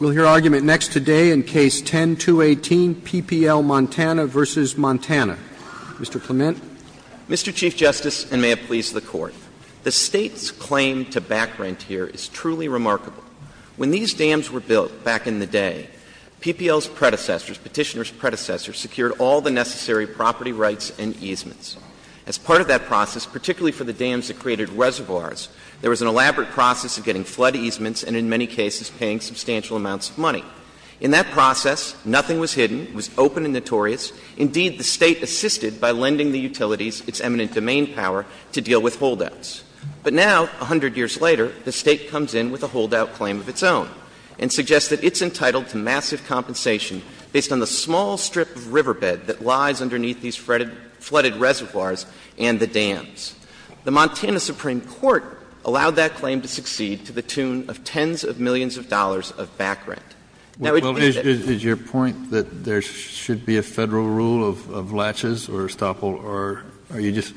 We'll hear argument next today in case 10-218, PPL Montana v. Montana. Mr. Clement. Mr. Chief Justice, and may it please the court. The state's claim to back rent here is truly remarkable. When these dams were built back in the day, PPL's predecessors, petitioner's predecessors, secured all the necessary property rights and easements. As part of that process, particularly for the dams that created reservoirs, there was an elaborate process of getting flood easements and in many cases paying substantial amounts of money. In that process, nothing was hidden. It was open and notorious. Indeed, the state assisted by lending the utilities its eminent domain power to deal with holdouts. But now, a hundred years later, the state comes in with a holdout claim of its own and suggests that it's entitled to massive compensation based on the small strip of riverbed that lies underneath these flooded reservoirs and the dams. The Montana Supreme Court allowed that claim to succeed to the tune of tens of millions of dollars of back rent. Now, it would be that Kennedy, is your point that there should be a Federal rule of latches or stophole or are you just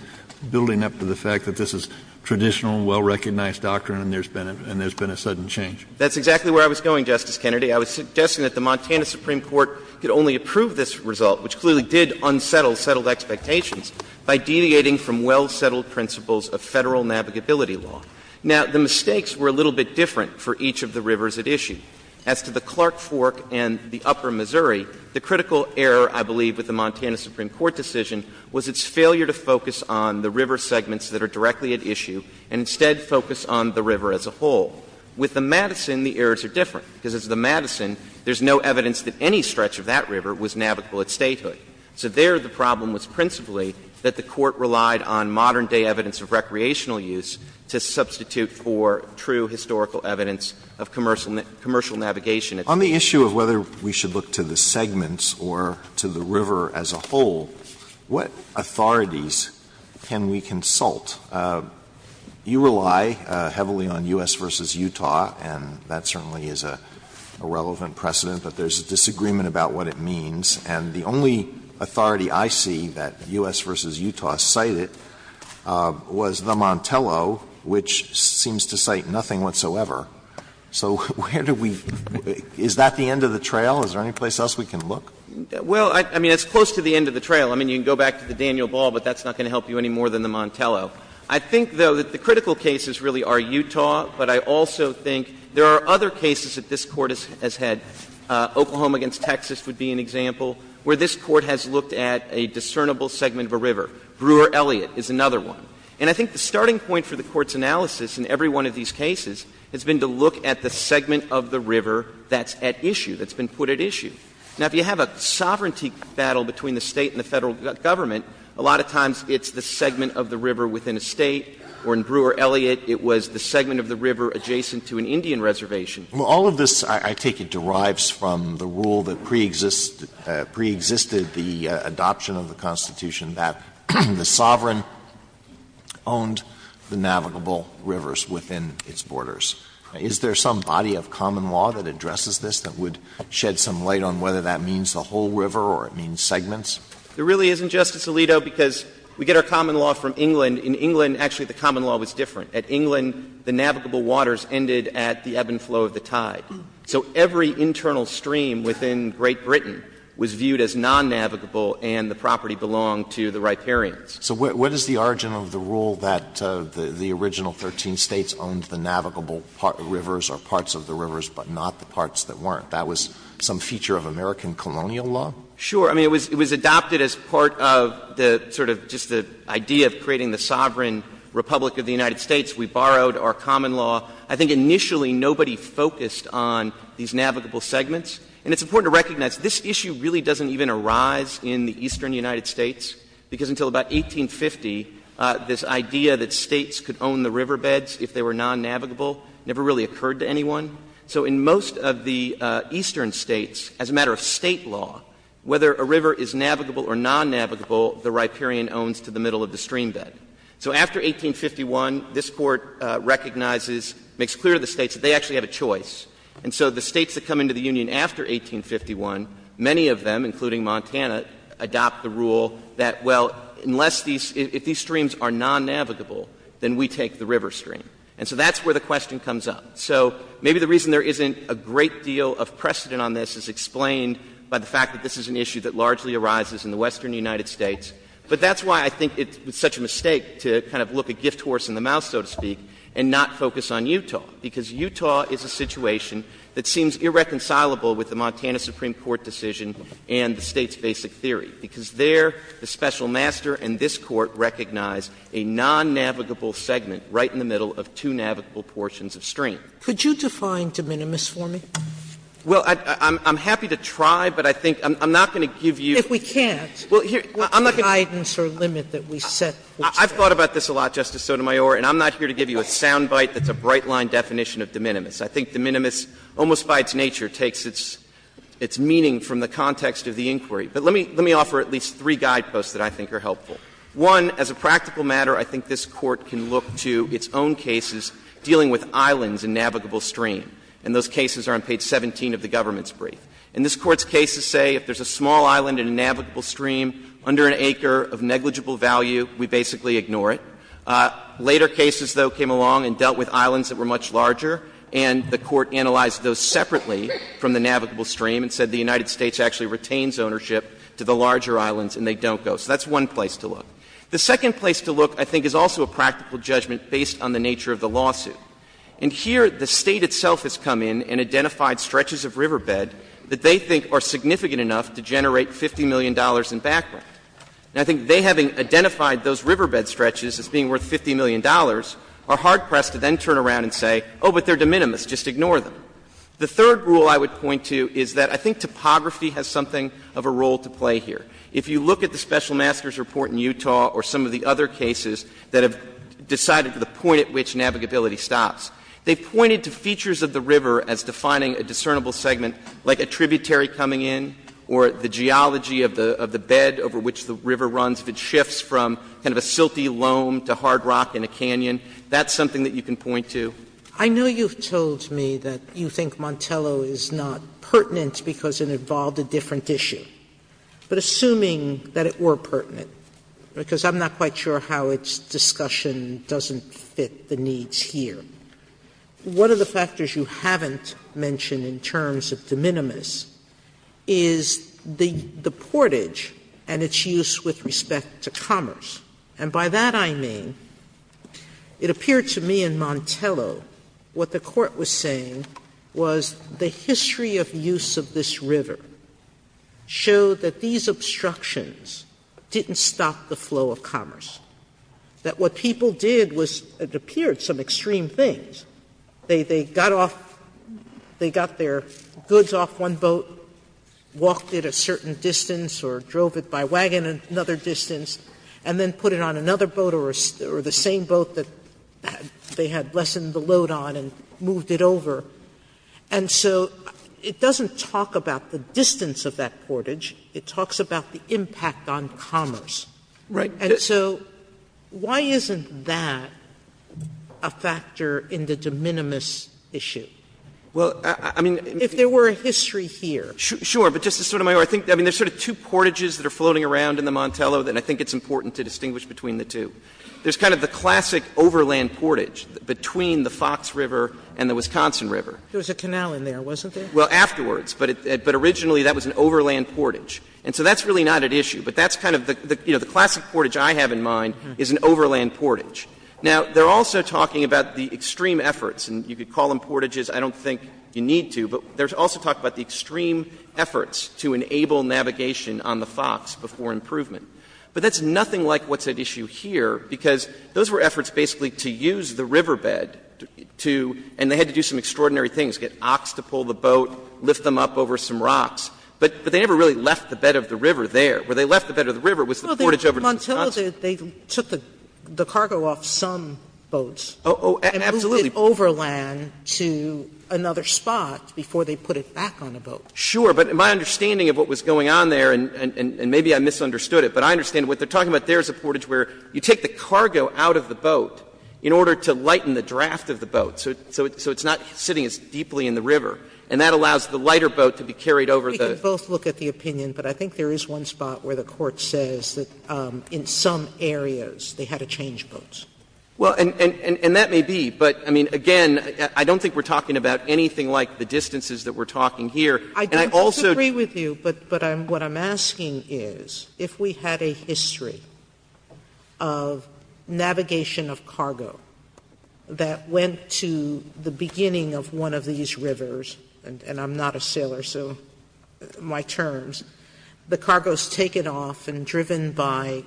building up to the fact that this is traditional, well-recognized doctrine and there's been a sudden change? That's exactly where I was going, Justice Kennedy. I was suggesting that the Montana Supreme Court could only approve this result, which clearly did unsettle settled expectations, by deviating from well-settled principles of Federal navigability law. Now, the mistakes were a little bit different for each of the rivers at issue. As to the Clark Fork and the upper Missouri, the critical error, I believe, with the Montana Supreme Court decision was its failure to focus on the river segments that are directly at issue and instead focus on the river as a whole. With the Madison, the errors are different, because as the Madison, there's no evidence that any stretch of that river was navigable at statehood. So there, the problem was principally that the Court relied on modern-day evidence of recreational use to substitute for true historical evidence of commercial navigation. Alito, on the issue of whether we should look to the segments or to the river as a whole, what authorities can we consult? You rely heavily on U.S. v. Utah, and that certainly is a relevant precedent, but there's a disagreement about what it means. And the only authority I see that U.S. v. Utah cited was the Montello, which seems to cite nothing whatsoever. So where do we – is that the end of the trail? Is there any place else we can look? Well, I mean, it's close to the end of the trail. I mean, you can go back to the Daniel Ball, but that's not going to help you any more than the Montello. I think, though, that the critical cases really are Utah, but I also think there are other cases that this Court has had, Oklahoma v. Texas would be an example, where this Court has looked at a discernible segment of a river. Brewer-Elliott is another one. And I think the starting point for the Court's analysis in every one of these cases has been to look at the segment of the river that's at issue, that's been put at issue. Now, if you have a sovereignty battle between the State and the Federal Government, a lot of times it's the segment of the river within a State, or in Brewer-Elliott it was the segment of the river adjacent to an Indian reservation. Alito, because we get our common law from England. In England, actually, the common law was different. At England, the navigable waters ended at the ebb and flow of the tide. So every internal stream within Great Britain was viewed as non-navigable, and the property belonged to the riparians. So what is the origin of the rule that the original 13 States owned the navigable rivers or parts of the rivers, but not the parts that weren't? That was some feature of American colonial law? Sure. I mean, it was adopted as part of the sort of just the idea of creating the sovereign Republic of the United States. We borrowed our common law. I think initially nobody focused on these navigable segments. And it's important to recognize this issue really doesn't even arise in the eastern United States, because until about 1850, this idea that States could own the riverbeds if they were non-navigable never really occurred to anyone. So in most of the eastern States, as a matter of State law, whether a river is navigable or non-navigable, the riparian owns to the middle of the streambed. So after 1851, this Court recognizes, makes clear to the States that they actually have a choice. And so the States that come into the Union after 1851, many of them, including Montana, adopt the rule that, well, unless these — if these streams are non-navigable, then we take the river stream. And so that's where the question comes up. So maybe the reason there isn't a great deal of precedent on this is explained by the fact that this is an issue that largely arises in the western United States. But that's why I think it's such a mistake to kind of look a gift horse in the mouth, so to speak, and not focus on Utah, because Utah is a situation that seems irreconcilable with the Montana Supreme Court decision and the States' basic theory, because there the special master and this Court recognize a non-navigable segment right in the middle of two navigable portions of stream. Sotomayor, and I'm not here to give you a soundbite that's a bright-line definition of de minimis. I think de minimis, almost by its nature, takes its — its meaning from the context of the inquiry. But let me — let me offer at least three guideposts that I think are helpful. One, as a practical matter, I think this Court can look to its own case to see if it can be used to define the definition of de minimis. The first is that the United States has a number of cases dealing with islands and navigable stream, and those cases are on page 17 of the government's brief. And this Court's cases say if there's a small island and a navigable stream under an acre of negligible value, we basically ignore it. Later cases, though, came along and dealt with islands that were much larger, and the Court analyzed those separately from the navigable stream and said the United States actually retains ownership to the larger islands and they don't go. So that's one place to look. The second is that the United States has a number of cases dealing with riverbed stretches that are significant enough to generate $50 million in background. And I think they, having identified those riverbed stretches as being worth $50 million, are hard-pressed to then turn around and say, oh, but they're de minimis, just ignore them. The third rule I would point to is that I think topography has something of a role to play here. If you look at the Special Master's report in Utah or some of the other cases that have decided to the point at which navigability stops, they pointed to features of the river as defining a discernible segment, like a tributary coming in or the geology of the bed over which the river runs. If it shifts from kind of a silty loam to hard rock in a canyon, that's something that you can point to. Sotomayor, I know you've told me that you think Montello is not pertinent because it involved a different issue. But assuming that it were pertinent, because I'm not quite sure how its discussion doesn't fit the needs here, one of the factors you haven't mentioned in terms of de minimis is the portage and its use with respect to commerce. And by that I mean, it appeared to me in Montello what the Court was saying was the history of use of this river showed that these obstructions didn't stop the flow of commerce, that what people did was, it appeared, some extreme things. They got off, they got their goods off one boat, walked it a certain distance or drove it by wagon another distance, and then put it on another boat or the same boat that they had lessened the load on and moved it over. And so it doesn't talk about the distance of that portage. It talks about the impact on commerce. And so why isn't that a factor in the de minimis issue? If there were a history here. Clements, I mean, there's sort of two portages that are floating around in the Montello that I think it's important to distinguish between the two. There's kind of the classic overland portage between the Fox River and the Wisconsin River. Sotomayor, there was a canal in there, wasn't there? Well, afterwards. But originally that was an overland portage. And so that's really not at issue. But that's kind of the classic portage I have in mind is an overland portage. Now, they're also talking about the extreme efforts, and you could call them portages. I don't think you need to. But there's also talk about the extreme efforts to enable navigation on the Fox before improvement. But that's nothing like what's at issue here, because those were efforts basically to use the riverbed to — and they had to do some extraordinary things, get ox to pull the boat, lift them up over some rocks. But they never really left the bed of the river there. Where they left the bed of the river was the portage over to Wisconsin. Well, in Montello, they took the cargo off some boats. Oh, absolutely. And moved it overland to another spot before they put it back on a boat. Sure. But my understanding of what was going on there, and maybe I misunderstood it, but I understand what they're talking about there is a portage where you take the cargo out of the boat in order to lighten the draft of the boat, so it's not sitting as deeply in the river. And that allows the lighter boat to be carried over the — We can both look at the opinion, but I think there is one spot where the Court says that in some areas they had to change boats. Well, and that may be, but, I mean, again, I don't think we're talking about anything like the distances that we're talking here. And I also — But what I'm asking is, if we had a history of navigation of cargo that went to the beginning of one of these rivers — and I'm not a sailor, so my terms — the cargo is taken off and driven by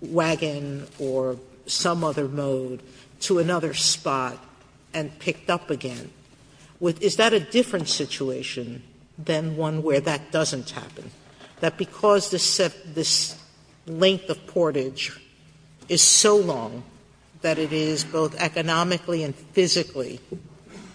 wagon or some other mode to another spot and picked up again, is that a different situation than one where that doesn't happen? That because this set — this length of portage is so long that it is both economically and physically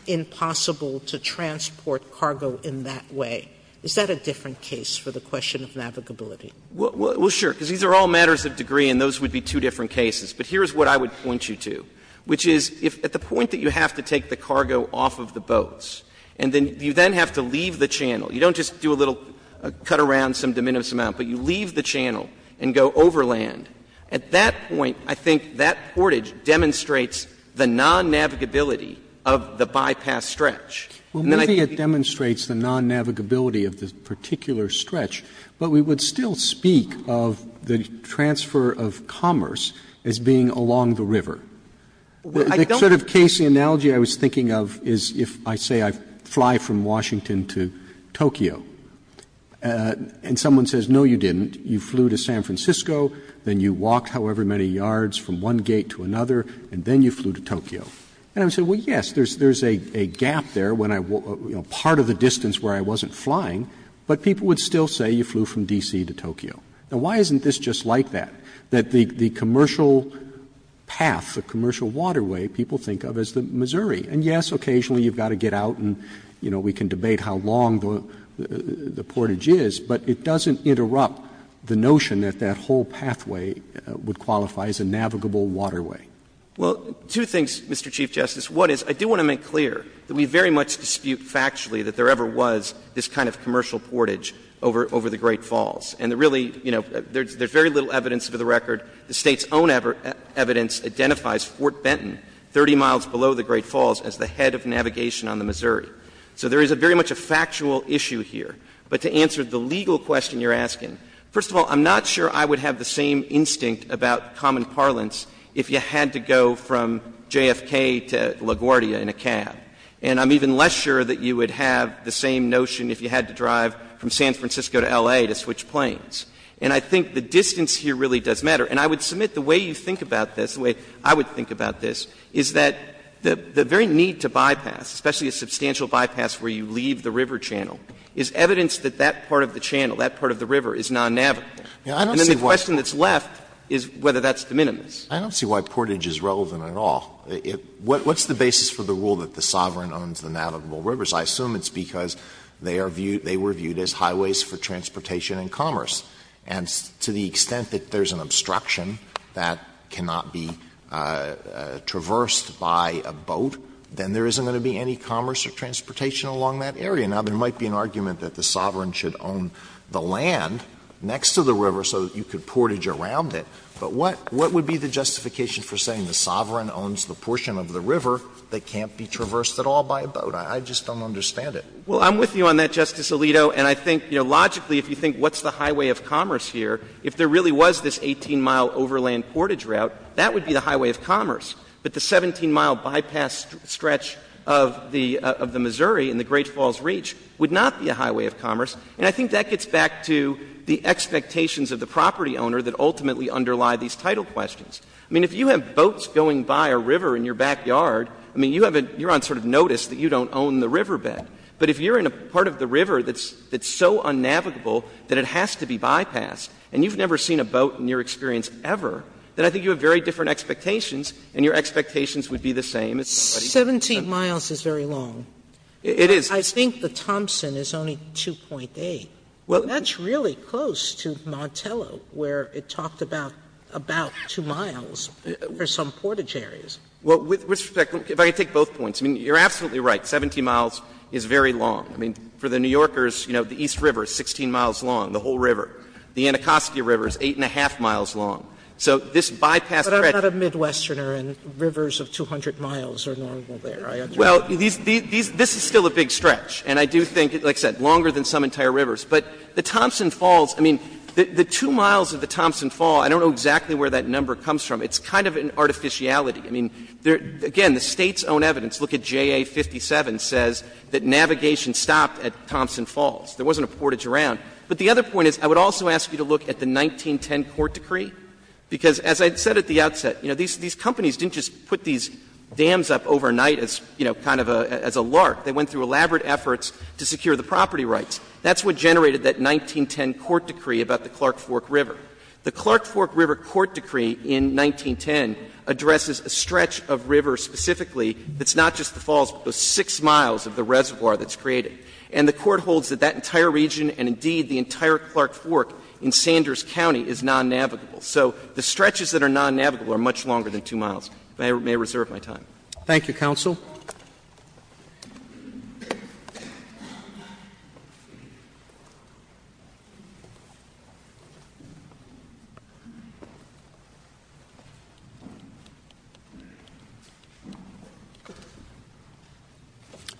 impossible to transport cargo in that way, is that a different case for the question of navigability? Well, sure, because these are all matters of degree, and those would be two different cases. But here is what I would point you to, which is, if at the point that you have to take the cargo off of the boats, and then you then have to leave the channel, you don't just do a little cut around some de minimis amount, but you leave the channel and go overland, at that point, I think that portage demonstrates the non-navigability of the bypass stretch. And then I think we would still speak of the transfer of commerce as being along the river. The sort of case, the analogy I was thinking of, is if I say I fly from Washington to Tokyo, and someone says, no, you didn't, you flew to San Francisco, then you walked however many yards from one gate to another, and then you flew to Tokyo. And I would say, well, yes, there is a gap there when I — part of the distance where I wasn't flying, but people would still say you flew from D.C. to Tokyo. Now, why isn't this just like that? That the commercial path, the commercial waterway, people think of as the Missouri. And, yes, occasionally you've got to get out and, you know, we can debate how long the portage is, but it doesn't interrupt the notion that that whole pathway would qualify as a navigable waterway. Well, two things, Mr. Chief Justice. One is, I do want to make clear that we very much dispute factually that there ever was this kind of commercial portage over the Great Falls. And really, you know, there's very little evidence for the record. The State's own evidence identifies Fort Benton, 30 miles below the Great Falls, as the head of navigation on the Missouri. So there is very much a factual issue here. But to answer the legal question you're asking, first of all, I'm not sure I would have the same instinct about common parlance if you had to go from JFK to LaGuardia in a cab, and I'm even less sure that you would have the same notion if you had to drive from San Francisco to L.A. to switch planes. And I think the distance here really does matter. And I would submit the way you think about this, the way I would think about this, is that the very need to bypass, especially a substantial bypass where you leave the river channel, is evidence that that part of the channel, that part of the river, is non-navigable. And then the question that's left is whether that's de minimis. I don't see why portage is relevant at all. What's the basis for the rule that the sovereign owns the navigable rivers? I assume it's because they are viewed as highways for transportation and commerce. And to the extent that there's an obstruction that cannot be traversed by a boat, then there isn't going to be any commerce or transportation along that area. Now, there might be an argument that the sovereign should own the land next to the river so that you could portage around it. But what would be the justification for saying the sovereign owns the portion of the river that can't be traversed at all by a boat? I just don't understand it. Well, I'm with you on that, Justice Alito. And I think, you know, logically, if you think what's the highway of commerce here, if there really was this 18-mile overland portage route, that would be the highway of commerce. But the 17-mile bypass stretch of the Missouri in the Great Falls Reach would not be a highway of commerce. And I think that gets back to the expectations of the property owner that ultimately underlie these title questions. I mean, if you have boats going by a river in your backyard, I mean, you have a — you're going to sort of notice that you don't own the riverbed. But if you're in a part of the river that's so unnavigable that it has to be bypassed and you've never seen a boat in your experience ever, then I think you have very different expectations, and your expectations would be the same as somebody's. 17 miles is very long. It is. I think the Thompson is only 2.8. Well, that's really close to Montello, where it talked about about 2 miles for some portage areas. Well, with respect, if I could take both points, I mean, you're absolutely right, 17 miles is very long. I mean, for the New Yorkers, you know, the East River is 16 miles long, the whole river. The Anacostia River is 8-1⁄2 miles long. So this bypass stretch of the rivers is still a big stretch, and I do think, like I said, longer than some entire rivers. But the Thompson Falls, I mean, the 2 miles of the Thompson Fall, I don't know exactly where that number comes from. It's kind of an artificiality. I mean, again, the State's own evidence, look at JA-57, says that navigation stopped at Thompson Falls. There wasn't a portage around. But the other point is, I would also ask you to look at the 1910 court decree, because as I said at the outset, you know, these companies didn't just put these dams up overnight as, you know, kind of as a lark. They went through elaborate efforts to secure the property rights. That's what generated that 1910 court decree about the Clark Fork River. The Clark Fork River court decree in 1910 addresses a stretch of river specifically that's not just the falls, but those 6 miles of the reservoir that's created. And the Court holds that that entire region and, indeed, the entire Clark Fork in Sanders County is non-navigable. So the stretches that are non-navigable are much longer than 2 miles. If I may reserve my time. Thank you, counsel.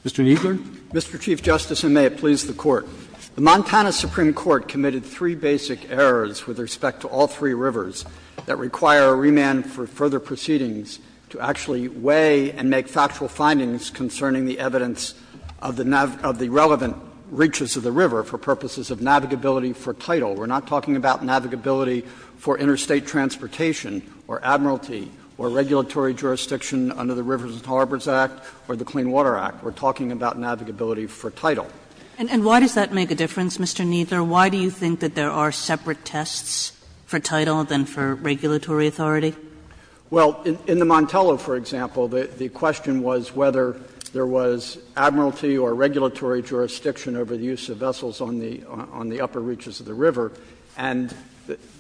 Mr. Kneedler. Mr. Chief Justice, and may it please the Court. The Montana Supreme Court committed 3 basic errors with respect to all 3 rivers that require a remand for further proceedings to actually weigh and make factual findings concerning the evidence of the relevant reaches of the river for purposes of navigability for title. We're not talking about navigability for interstate transportation or admiralty or regulatory jurisdiction under the Rivers and Harbors Act or the Clean Water Act. We're talking about navigability for title. And why does that make a difference, Mr. Kneedler? Mr. Kneedler, why do you think that there are separate tests for title than for regulatory authority? Well, in the Montello, for example, the question was whether there was admiralty or regulatory jurisdiction over the use of vessels on the upper reaches of the river. And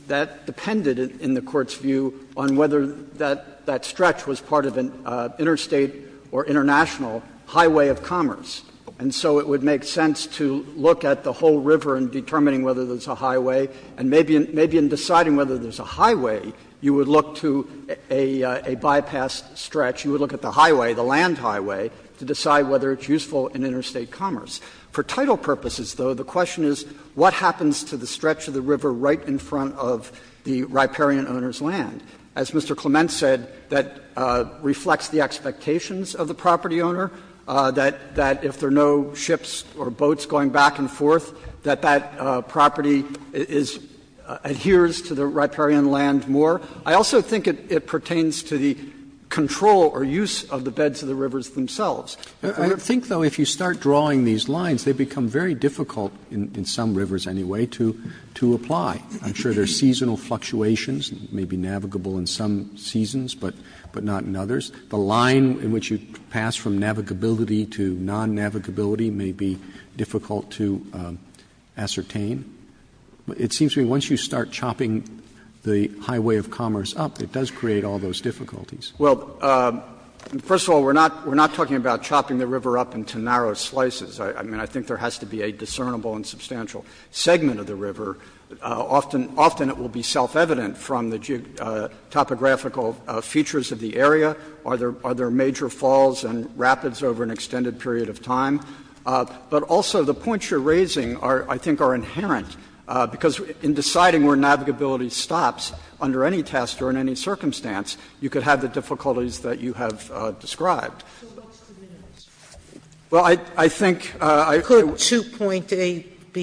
that depended, in the Court's view, on whether that stretch was part of an interstate or international highway of commerce. And so it would make sense to look at the whole river in determining whether there's a highway, and maybe in deciding whether there's a highway, you would look to a bypass stretch, you would look at the highway, the land highway, to decide whether it's useful in interstate commerce. For title purposes, though, the question is what happens to the stretch of the river right in front of the riparian owner's land? As Mr. Clement said, that reflects the expectations of the property owner, that it would be, if there are no ships or boats going back and forth, that that property is adheres to the riparian land more. I also think it pertains to the control or use of the beds of the rivers themselves. Roberts, I think, though, if you start drawing these lines, they become very difficult in some rivers anyway to apply. I'm sure there are seasonal fluctuations, maybe navigable in some seasons, but not in others. The line in which you pass from navigability to non-navigability may be difficult to ascertain. It seems to me once you start chopping the highway of commerce up, it does create all those difficulties. Well, first of all, we're not talking about chopping the river up into narrow slices. I mean, I think there has to be a discernible and substantial segment of the river. Often it will be self-evident from the topographical features of the area. Are there major falls and rapids over an extended period of time? But also the points you're raising are, I think, are inherent, because in deciding where navigability stops under any test or in any circumstance, you could have the difficulties that you have described. Sotomayor, do you agree with the point that Mr.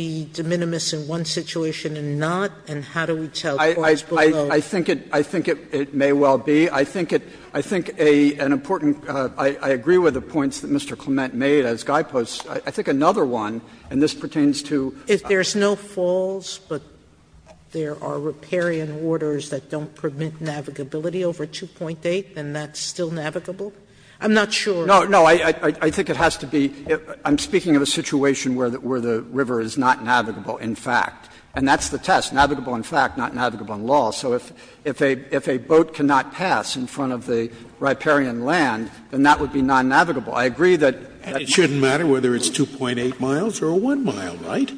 Clement made as guideposts that there is a situation and not, and how do we tell falls below? Kneedler, I think it may well be. I think an important – I agree with the points that Mr. Clement made as guideposts. I think another one, and this pertains to the fact that there's no falls, but there are riparian orders that don't permit navigability over 2.8, and that's still navigable? I'm not sure. Kneedler, no, I think it has to be – I'm speaking of a situation where the river is not navigable, in fact. And that's the test, navigable in fact, not navigable in law. So if a boat cannot pass in front of the riparian land, then that would be non-navigable. I agree that that's true. Scalia, and it shouldn't matter whether it's 2.8 miles or 1 mile, right?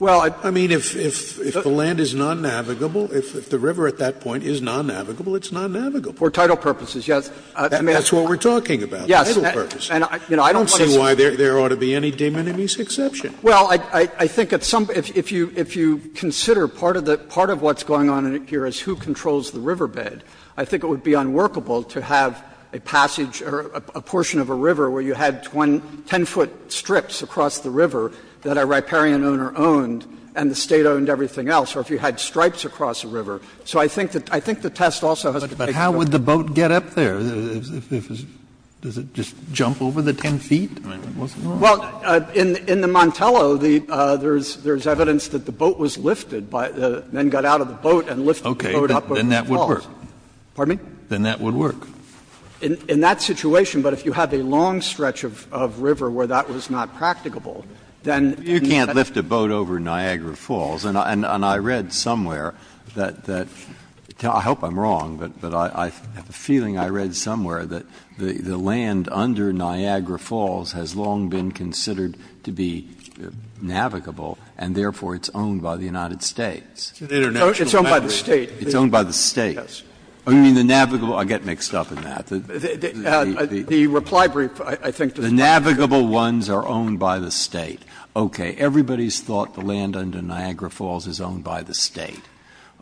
Well, I mean, if the land is non-navigable, if the river at that point is non-navigable, it's non-navigable. For title purposes, yes. That's what we're talking about. Yes. And I don't want to say why there ought to be any de minimis exception. Well, I think at some – if you consider part of what's going on here is who controls the riverbed, I think it would be unworkable to have a passage or a portion of a river where you had 10-foot strips across the river that a riparian owner owned and the State owned everything else, or if you had stripes across a river. So I think the test also has to take place. But how would the boat get up there? Does it just jump over the 10 feet? I mean, what's wrong with that? Well, in the Montello, there's evidence that the boat was lifted by the men got out of the boat and lifted the boat up over the falls. Okay. Then that would work. Pardon me? Then that would work. In that situation, but if you had a long stretch of river where that was not practicable, then you can't lift a boat over Niagara Falls. And I read somewhere that – I hope I'm wrong, but I have a feeling I read somewhere that the land under Niagara Falls has long been considered to be navigable and therefore it's owned by the United States. It's owned by the State. It's owned by the State. Yes. You mean the navigable – I get mixed up in that. The reply brief, I think, does not. The navigable ones are owned by the State. Okay. Everybody's thought the land under Niagara Falls is owned by the State.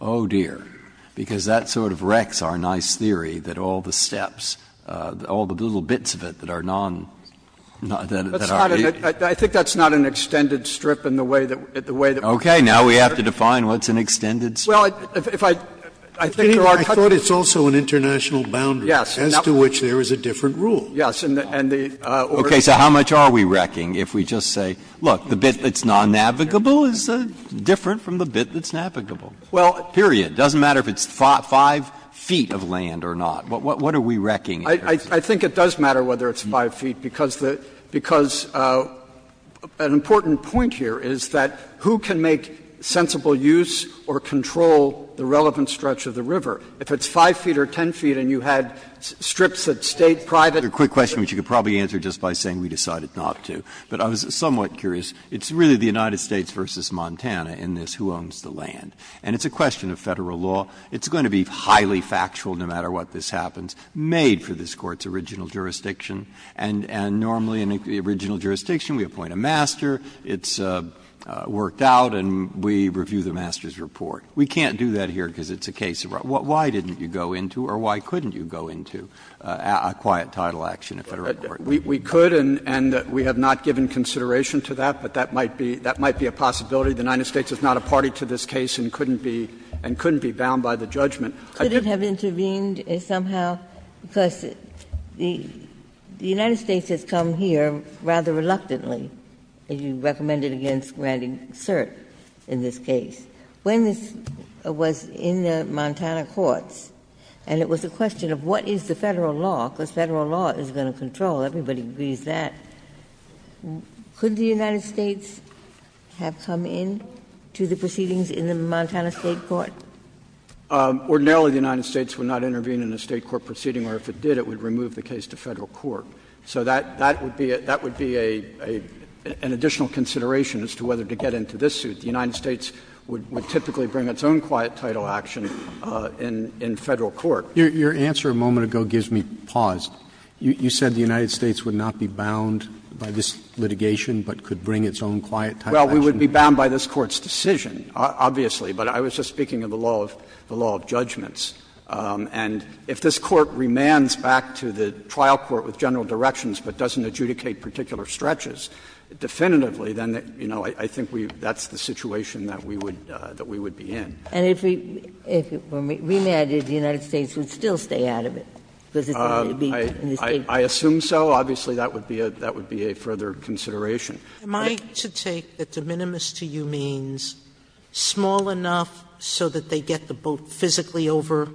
Oh, dear. Because that sort of wrecks our nice theory that all the steps, all the little bits of it that are non-that are aided. I think that's not an extended strip in the way that we're concerned. Okay. Now we have to define what's an extended strip. Well, if I think there are countries. I thought it's also an international boundary. Yes. As to which there is a different rule. Yes. And the order is different. Okay. So how much are we wrecking if we just say, look, the bit that's non-navigable is different from the bit that's navigable, period. Well, it doesn't matter if it's 5 feet of land or not. What are we wrecking? I think it does matter whether it's 5 feet, because the – because an important point here is that who can make sensible use or control the relevant stretch of the river. I have another quick question, which you could probably answer just by saying we decided not to, but I was somewhat curious. It's really the United States v. Montana in this, who owns the land, and it's a question of Federal law. It's going to be highly factual no matter what this happens, made for this Court's original jurisdiction, and normally in the original jurisdiction we appoint a master, it's worked out, and we review the master's report. We can't do that here because it's a case of why didn't you go into or why couldn't you go into a quiet title action at Federal court? We could, and we have not given consideration to that, but that might be a possibility. The United States is not a party to this case and couldn't be bound by the judgment. I couldn't have intervened somehow, because the United States has come here rather reluctantly, as you recommended against Randy Cert in this case. When this was in the Montana courts, and it was a question of what is the Federal law, because Federal law is going to control, everybody agrees that, could the United States have come in to the proceedings in the Montana State court? Ordinarily, the United States would not intervene in a State court proceeding, or if it did, it would remove the case to Federal court. So that would be an additional consideration as to whether to get into this suit. The United States would typically bring its own quiet title action in Federal court. Roberts. Your answer a moment ago gives me pause. You said the United States would not be bound by this litigation, but could bring its own quiet title action? Well, we would be bound by this Court's decision, obviously, but I was just speaking of the law of judgments. And if this Court remands back to the trial court with general directions but doesn't adjudicate particular stretches, definitively, then, you know, I think we that's the situation that we would be in. And if it were remanded, the United States would still stay out of it, because it's going to be in the State court. I assume so. Obviously, that would be a further consideration. Am I to take that de minimis to you means small enough so that they get the boat physically over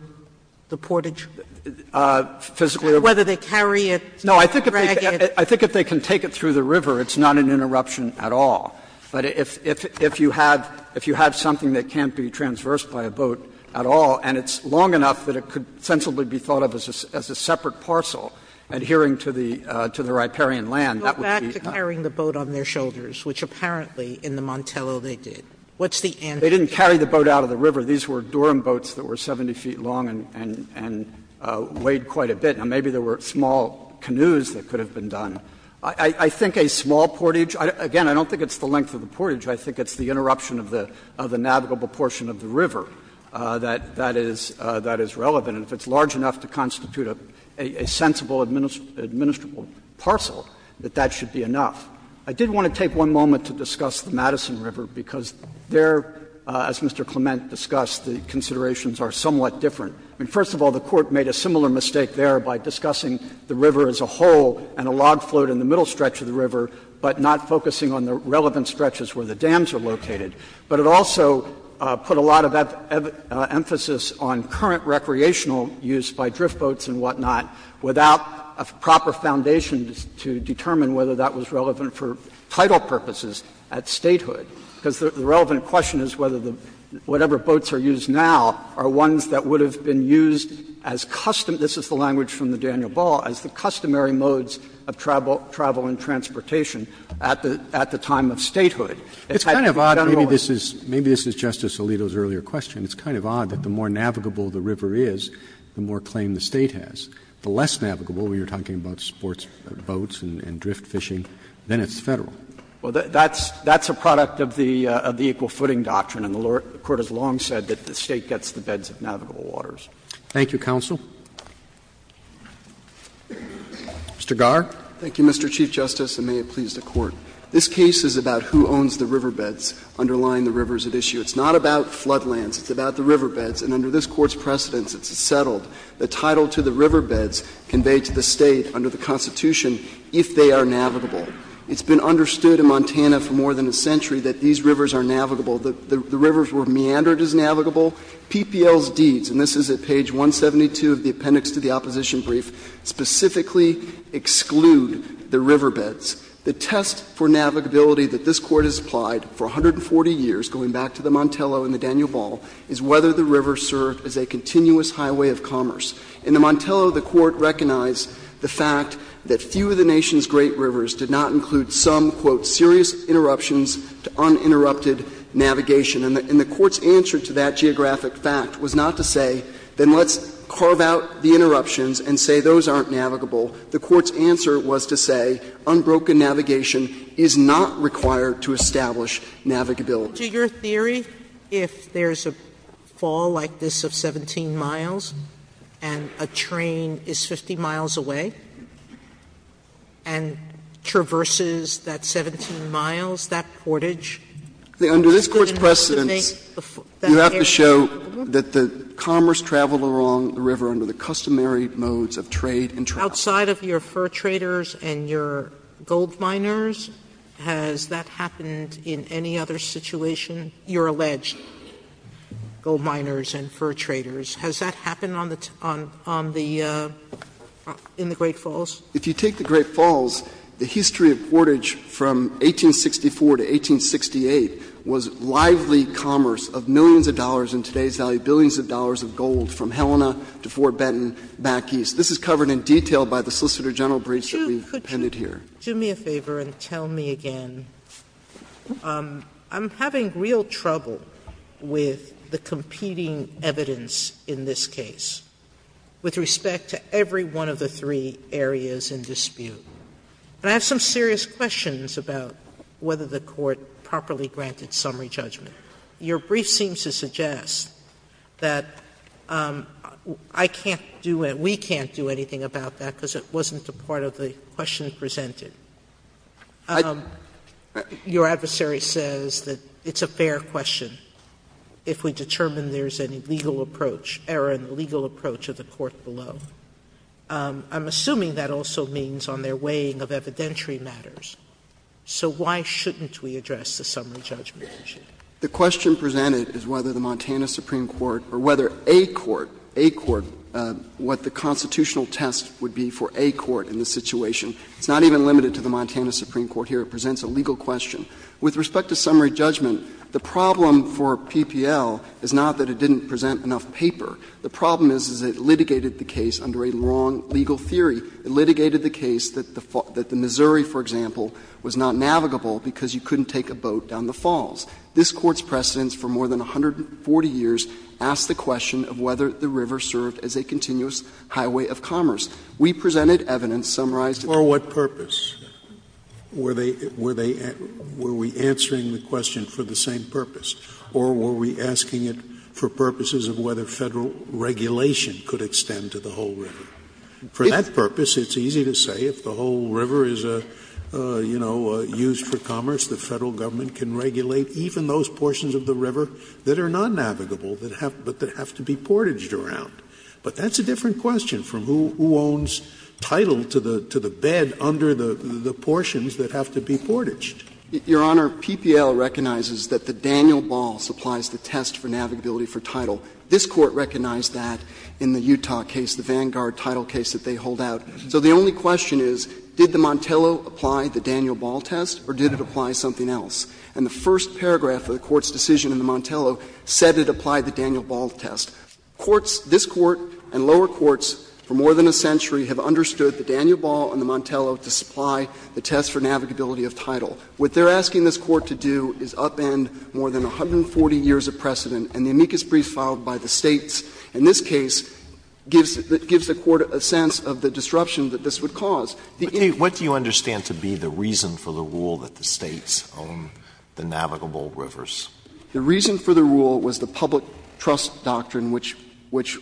the portage? Physically over the portage. Whether they carry it, drag it. No, I think if they can take it through the river, it's not an interruption at all. But if you have something that can't be transversed by a boat at all, and it's long enough that it could sensibly be thought of as a separate parcel adhering to the riparian land, that would be. Sotomayor Go back to carrying the boat on their shoulders, which apparently in the Montello they did. What's the answer? They didn't carry the boat out of the river. These were Durham boats that were 70 feet long and weighed quite a bit. Now, maybe there were small canoes that could have been done. I think a small portage, again, I don't think it's the length of the portage. I think it's the interruption of the navigable portion of the river that is relevant. And if it's large enough to constitute a sensible, administrable parcel, that that should be enough. I did want to take one moment to discuss the Madison River, because there, as Mr. Clement discussed, the considerations are somewhat different. First of all, the Court made a similar mistake there by discussing the river as a whole and a log float in the middle stretch of the river, but not focusing on the relevant stretches where the dams are located. But it also put a lot of emphasis on current recreational use by drift boats and whatnot without a proper foundation to determine whether that was relevant for title purposes at statehood, because the relevant question is whether the — whatever boats are used now are ones that would have been used as custom — this is the language from the Daniel Ball — as the customary modes of travel and transportation at the time of statehood. It's kind of odd. Roberts, maybe this is Justice Alito's earlier question. It's kind of odd that the more navigable the river is, the more claim the State has. The less navigable, when you're talking about sports boats and drift fishing, then it's Federal. Well, that's a product of the equal footing doctrine, and the Court has long said that the State gets the beds of navigable waters. Roberts, thank you. Thank you, counsel. Mr. Garre. Thank you, Mr. Chief Justice, and may it please the Court. This case is about who owns the riverbeds underlying the rivers at issue. It's not about floodlands. It's about the riverbeds. And under this Court's precedence, it's settled the title to the riverbeds conveyed to the State under the Constitution if they are navigable. It's been understood in Montana for more than a century that these rivers are navigable. The rivers were meandered as navigable. PPL's deeds, and this is at page 172 of the appendix to the opposition brief, specifically exclude the riverbeds. The test for navigability that this Court has applied for 140 years, going back to the Montello and the Daniel Ball, is whether the river served as a continuous highway of commerce. In the Montello, the Court recognized the fact that few of the nation's great rivers did not include some, quote, serious interruptions to uninterrupted navigation. And the Court's answer to that geographic fact was not to say, then let's carve out the interruptions and say those aren't navigable. The Court's answer was to say unbroken navigation is not required to establish navigability. Sotomayor, your theory, if there's a fall like this of 17 miles and a train is 50 miles away and traverses that 17 miles, that portage? Under this Court's precedence, you have to show that the commerce traveled along the river under the customary modes of trade and travel. Outside of your fur traders and your gold miners, has that happened in any other situation? You're alleged gold miners and fur traders. Has that happened on the — in the Great Falls? If you take the Great Falls, the history of portage from 1864 to 1868 was lively commerce of millions of dollars in today's value, billions of dollars of gold from Helena to Fort Benton back east. This is covered in detail by the Solicitor General briefs that we've appended here. Sotomayor, could you do me a favor and tell me again, I'm having real trouble with the competing evidence in this case with respect to every one of the three areas in dispute. And I have some serious questions about whether the Court properly granted summary judgment. Your brief seems to suggest that I can't do — we can't do anything about that because it wasn't a part of the question presented. Your adversary says that it's a fair question if we determine there's any legal approach — error in the legal approach of the court below. I'm assuming that also means on their weighing of evidentiary matters. So why shouldn't we address the summary judgment issue? The question presented is whether the Montana Supreme Court or whether a court — a court — what the constitutional test would be for a court in this situation. It's not even limited to the Montana Supreme Court here. It presents a legal question. With respect to summary judgment, the problem for PPL is not that it didn't present enough paper. The problem is, is it litigated the case under a wrong legal theory. It litigated the case that the Missouri, for example, was not navigable because you couldn't take a boat down the falls. This Court's precedence for more than 140 years asks the question of whether the river served as a continuous highway of commerce. We presented evidence summarized in the case. For what purpose? Were they — were they — were we answering the question for the same purpose? Or were we asking it for purposes of whether Federal regulation could extend to the whole river? For that purpose, it's easy to say if the whole river is, you know, used for commerce, the Federal Government can regulate even those portions of the river that are not navigable, but that have to be portaged around. But that's a different question from who owns title to the bed under the portions that have to be portaged. Your Honor, PPL recognizes that the Daniel Balls applies the test for navigability for title. This Court recognized that in the Utah case, the Vanguard title case that they hold out. So the only question is, did the Montello apply the Daniel Ball test or did it apply something else? And the first paragraph of the Court's decision in the Montello said it applied the Daniel Ball test. Courts — this Court and lower courts for more than a century have understood the Daniel Ball and the Montello to supply the test for navigability of title. What they're asking this Court to do is upend more than 140 years of precedent, and the amicus brief filed by the States in this case gives — gives the Court a sense of the disruption that this would cause. Alito, what do you understand to be the reason for the rule that the States own the navigable rivers? The reason for the rule was the public trust doctrine, which — which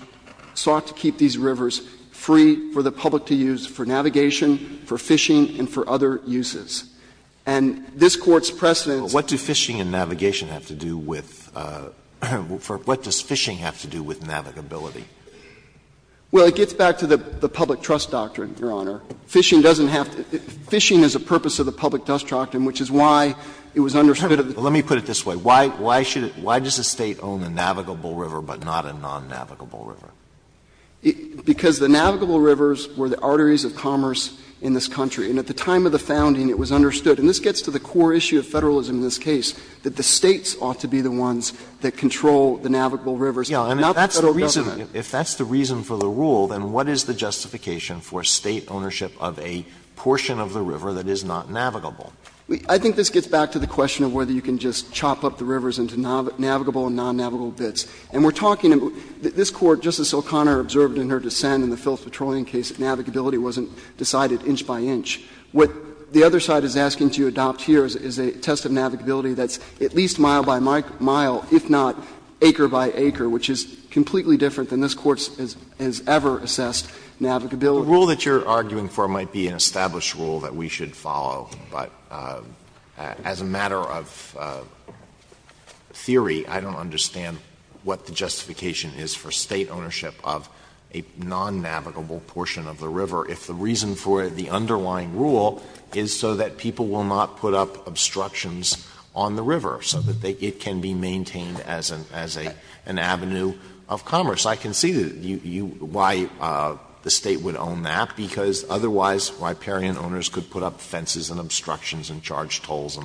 sought to keep these rivers free for the public to use for navigation, for fishing, and for other uses. And this Court's precedence— Alito, what do fishing and navigation have to do with — what does fishing have to do with navigability? Well, it gets back to the public trust doctrine, Your Honor. Fishing doesn't have to — fishing is a purpose of the public trust doctrine, which is why it was understood— Well, let me put it this way. Why — why should it — why does the State own a navigable river but not a non-navigable river? Because the navigable rivers were the arteries of commerce in this country. And at the time of the founding, it was understood, and this gets to the core issue of Federalism in this case, that the States ought to be the ones that control the navigable rivers, not the Federal government. If that's the reason for the rule, then what is the justification for State ownership of a portion of the river that is not navigable? I think this gets back to the question of whether you can just chop up the rivers into navigable and non-navigable bits. And we're talking about — this Court, Justice O'Connor, observed in her dissent in the Phillips Petroleum case, that navigability wasn't decided inch by inch. What the other side is asking to adopt here is a test of navigability that's at least mile by mile, if not acre by acre, which is completely different than this Court has ever assessed navigability. The rule that you're arguing for might be an established rule that we should follow, but as a matter of theory, I don't understand what the justification is for State ownership of a non-navigable portion of the river if the reason for the underlying rule is so that people will not put up obstructions on the river, so that it can be maintained as an avenue of commerce. I can see why the State would own that, because otherwise, riparian owners could put up fences and obstructions and charge tolls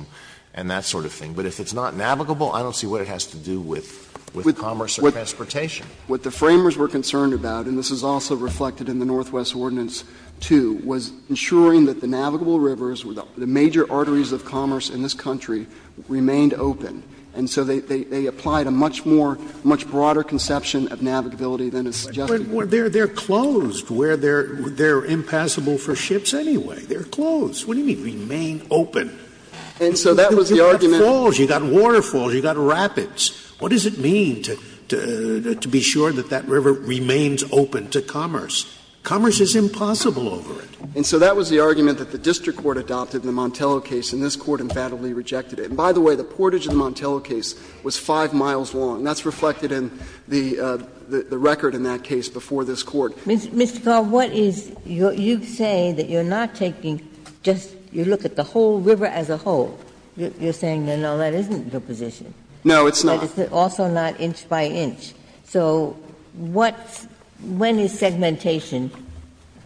and that sort of thing. But if it's not navigable, I don't see what it has to do with commerce or transportation. What the Framers were concerned about, and this is also reflected in the Northwest Ordinance 2, was ensuring that the navigable rivers, the major arteries of commerce in this country, remained open. And so they applied a much more — a much broader conception of navigability than is suggested. Scalia. But they're closed where they're impassable for ships anyway. They're closed. What do you mean remain open? You've got falls, you've got waterfalls, you've got rapids. What does it mean to be sure that that river remains open to commerce? Commerce is impossible over it. And so that was the argument that the district court adopted in the Montello case, and this Court emphatically rejected it. And by the way, the portage of the Montello case was 5 miles long. That's reflected in the record in that case before this Court. Ginsburg. Mr. Cobb, what is — you say that you're not taking just — you look at the whole river as a whole. You're saying, no, no, that isn't your position. No, it's not. But it's also not inch by inch. So what — when is segmentation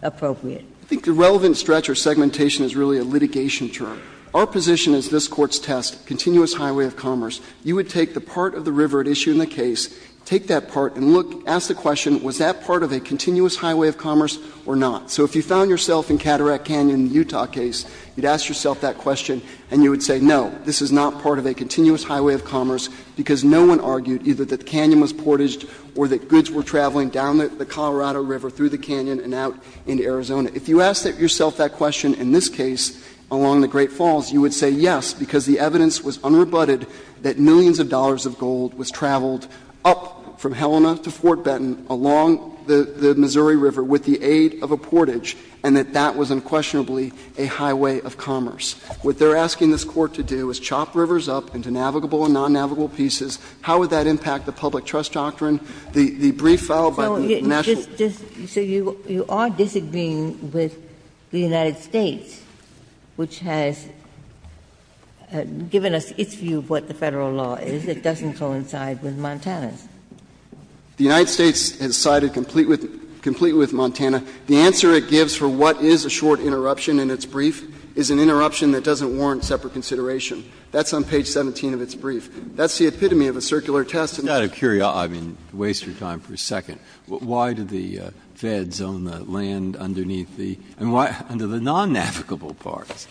appropriate? I think the relevant stretch or segmentation is really a litigation term. Our position is this Court's test, continuous highway of commerce. You would take the part of the river at issue in the case, take that part and look and ask the question, was that part of a continuous highway of commerce or not? So if you found yourself in Cataract Canyon in the Utah case, you'd ask yourself that question and you would say, no, this is not part of a continuous highway of commerce because no one argued either that the canyon was portaged or that goods were traveling down the Colorado River through the canyon and out into Arizona. If you asked yourself that question in this case along the Great Falls, you would say yes, because the evidence was unrebutted that millions of dollars of gold was traveled up from Helena to Fort Benton along the Missouri River with the aid of a portage, and that that was unquestionably a highway of commerce. What they are asking this Court to do is chop rivers up into navigable and non-navigable pieces. How would that impact the public trust doctrine? The brief filed by the national law firm. Ginsburg. So you are disagreeing with the United States, which has given us its view of what the Federal law is. It doesn't coincide with Montana's. The United States has sided complete with Montana. The answer it gives for what is a short interruption in its brief is an interruption that doesn't warrant separate consideration. That's on page 17 of its brief. That's the epitome of a circular test. Breyer. I mean, waste your time for a second. Why do the Feds own the land underneath the under the non-navigable parts?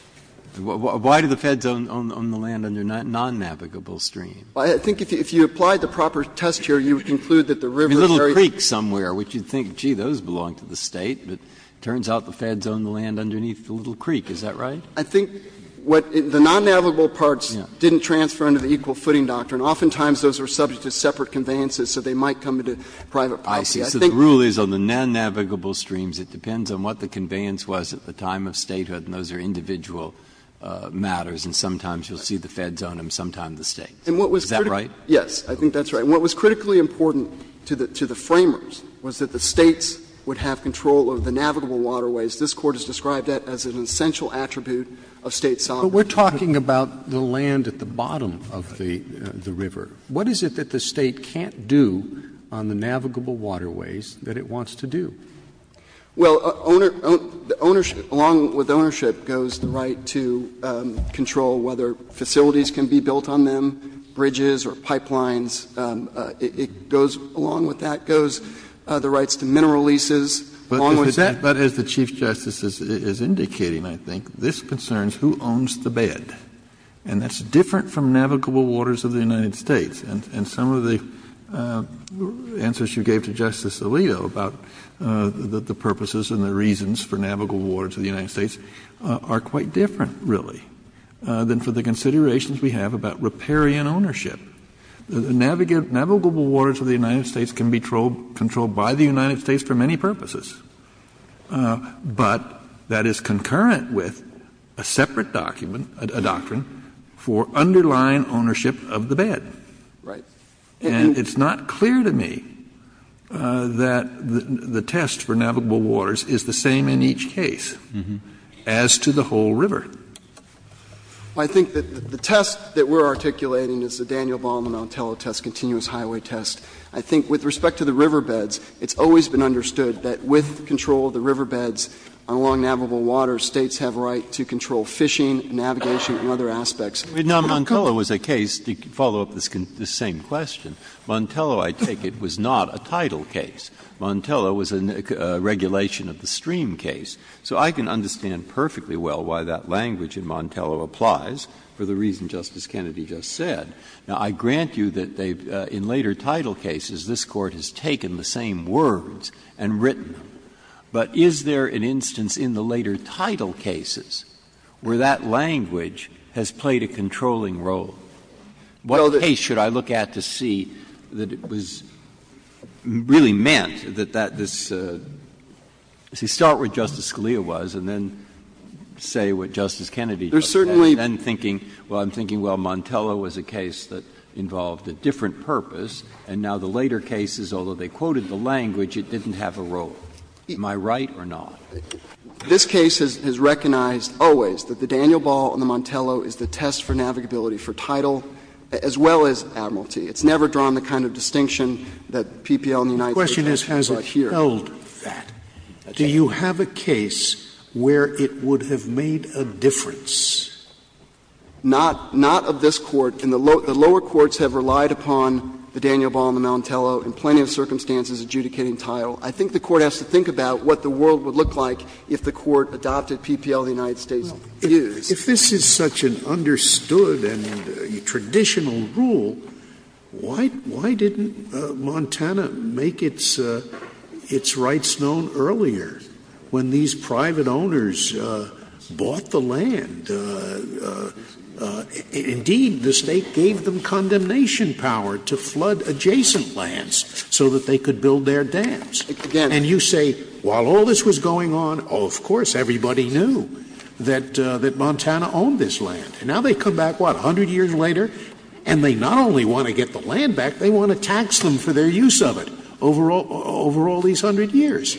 Why do the Feds own the land under non-navigable stream? I think if you applied the proper test here, you would conclude that the river is very. Breyer. I mean, Little Creek somewhere, which you would think, gee, those belong to the State. But it turns out the Feds own the land underneath the Little Creek. Is that right? I think what the non-navigable parts didn't transfer under the equal footing doctrine. Oftentimes, those are subject to separate conveyances, so they might come into private policy. I think the rule is on the non-navigable streams, it depends on what the conveyance was at the time of statehood, and those are individual matters, and sometimes you will see the Feds own them, sometimes the States. Is that right? Yes. I think that's right. And what was critically important to the framers was that the States would have control of the navigable waterways. This Court has described that as an essential attribute of State sovereignty. But we're talking about the land at the bottom of the river. What is it that the State can't do on the navigable waterways that it wants to do? Well, ownership, along with ownership, goes the right to control whether facilities can be built on them, bridges or pipelines. It goes along with that, goes the rights to mineral leases, along with that. But as the Chief Justice is indicating, I think, this concerns who owns the bed. And that's different from navigable waters of the United States. And some of the answers you gave to Justice Alito about the purposes and the reasons for navigable waters of the United States are quite different, really, than for the considerations we have about riparian ownership. The navigable waters of the United States can be controlled by the United States for many purposes. But that is concurrent with a separate document, a doctrine, for underlying ownership of the bed. Right. And it's not clear to me that the test for navigable waters is the same in each case as to the whole river. I think that the test that we're articulating is the Daniel Baum and Montello test, continuous highway test. I think with respect to the riverbeds, it's always been understood that with control of the riverbeds along navigable waters, States have a right to control fishing, navigation, and other aspects. Now, Montello was a case, to follow up this same question, Montello, I take it, was not a title case. Montello was a regulation of the stream case. So I can understand perfectly well why that language in Montello applies, for the reason Justice Kennedy just said. Now, I grant you that they've, in later title cases, this Court has taken the same words and written them. But is there an instance in the later title cases where that language has played a controlling role? What case should I look at to see that it was really meant that that this… Breyer. You start with what Justice Scalia was and then say what Justice Kennedy just said. And then thinking, well, I'm thinking, well, Montello was a case that involved a different purpose. And now the later cases, although they quoted the language, it didn't have a role. Am I right or not? This case has recognized always that the Daniel Baum and the Montello is the test for navigability for title, as well as Admiralty. It's never drawn the kind of distinction that PPL and the United States has here. And it's never held that. Do you have a case where it would have made a difference? Not of this Court. And the lower courts have relied upon the Daniel Baum and the Montello in plenty of circumstances adjudicating title. I think the Court has to think about what the world would look like if the Court adopted PPL and the United States did. If this is such an understood and traditional rule, why didn't Montana make its – its rights known earlier when these private owners bought the land? Indeed, the State gave them condemnation power to flood adjacent lands so that they could build their dams. And you say, while all this was going on, oh, of course, everybody knew that – that Montana owned this land. And now they come back, what, 100 years later? And they not only want to get the land back, they want to tax them for their use of it over all these 100 years.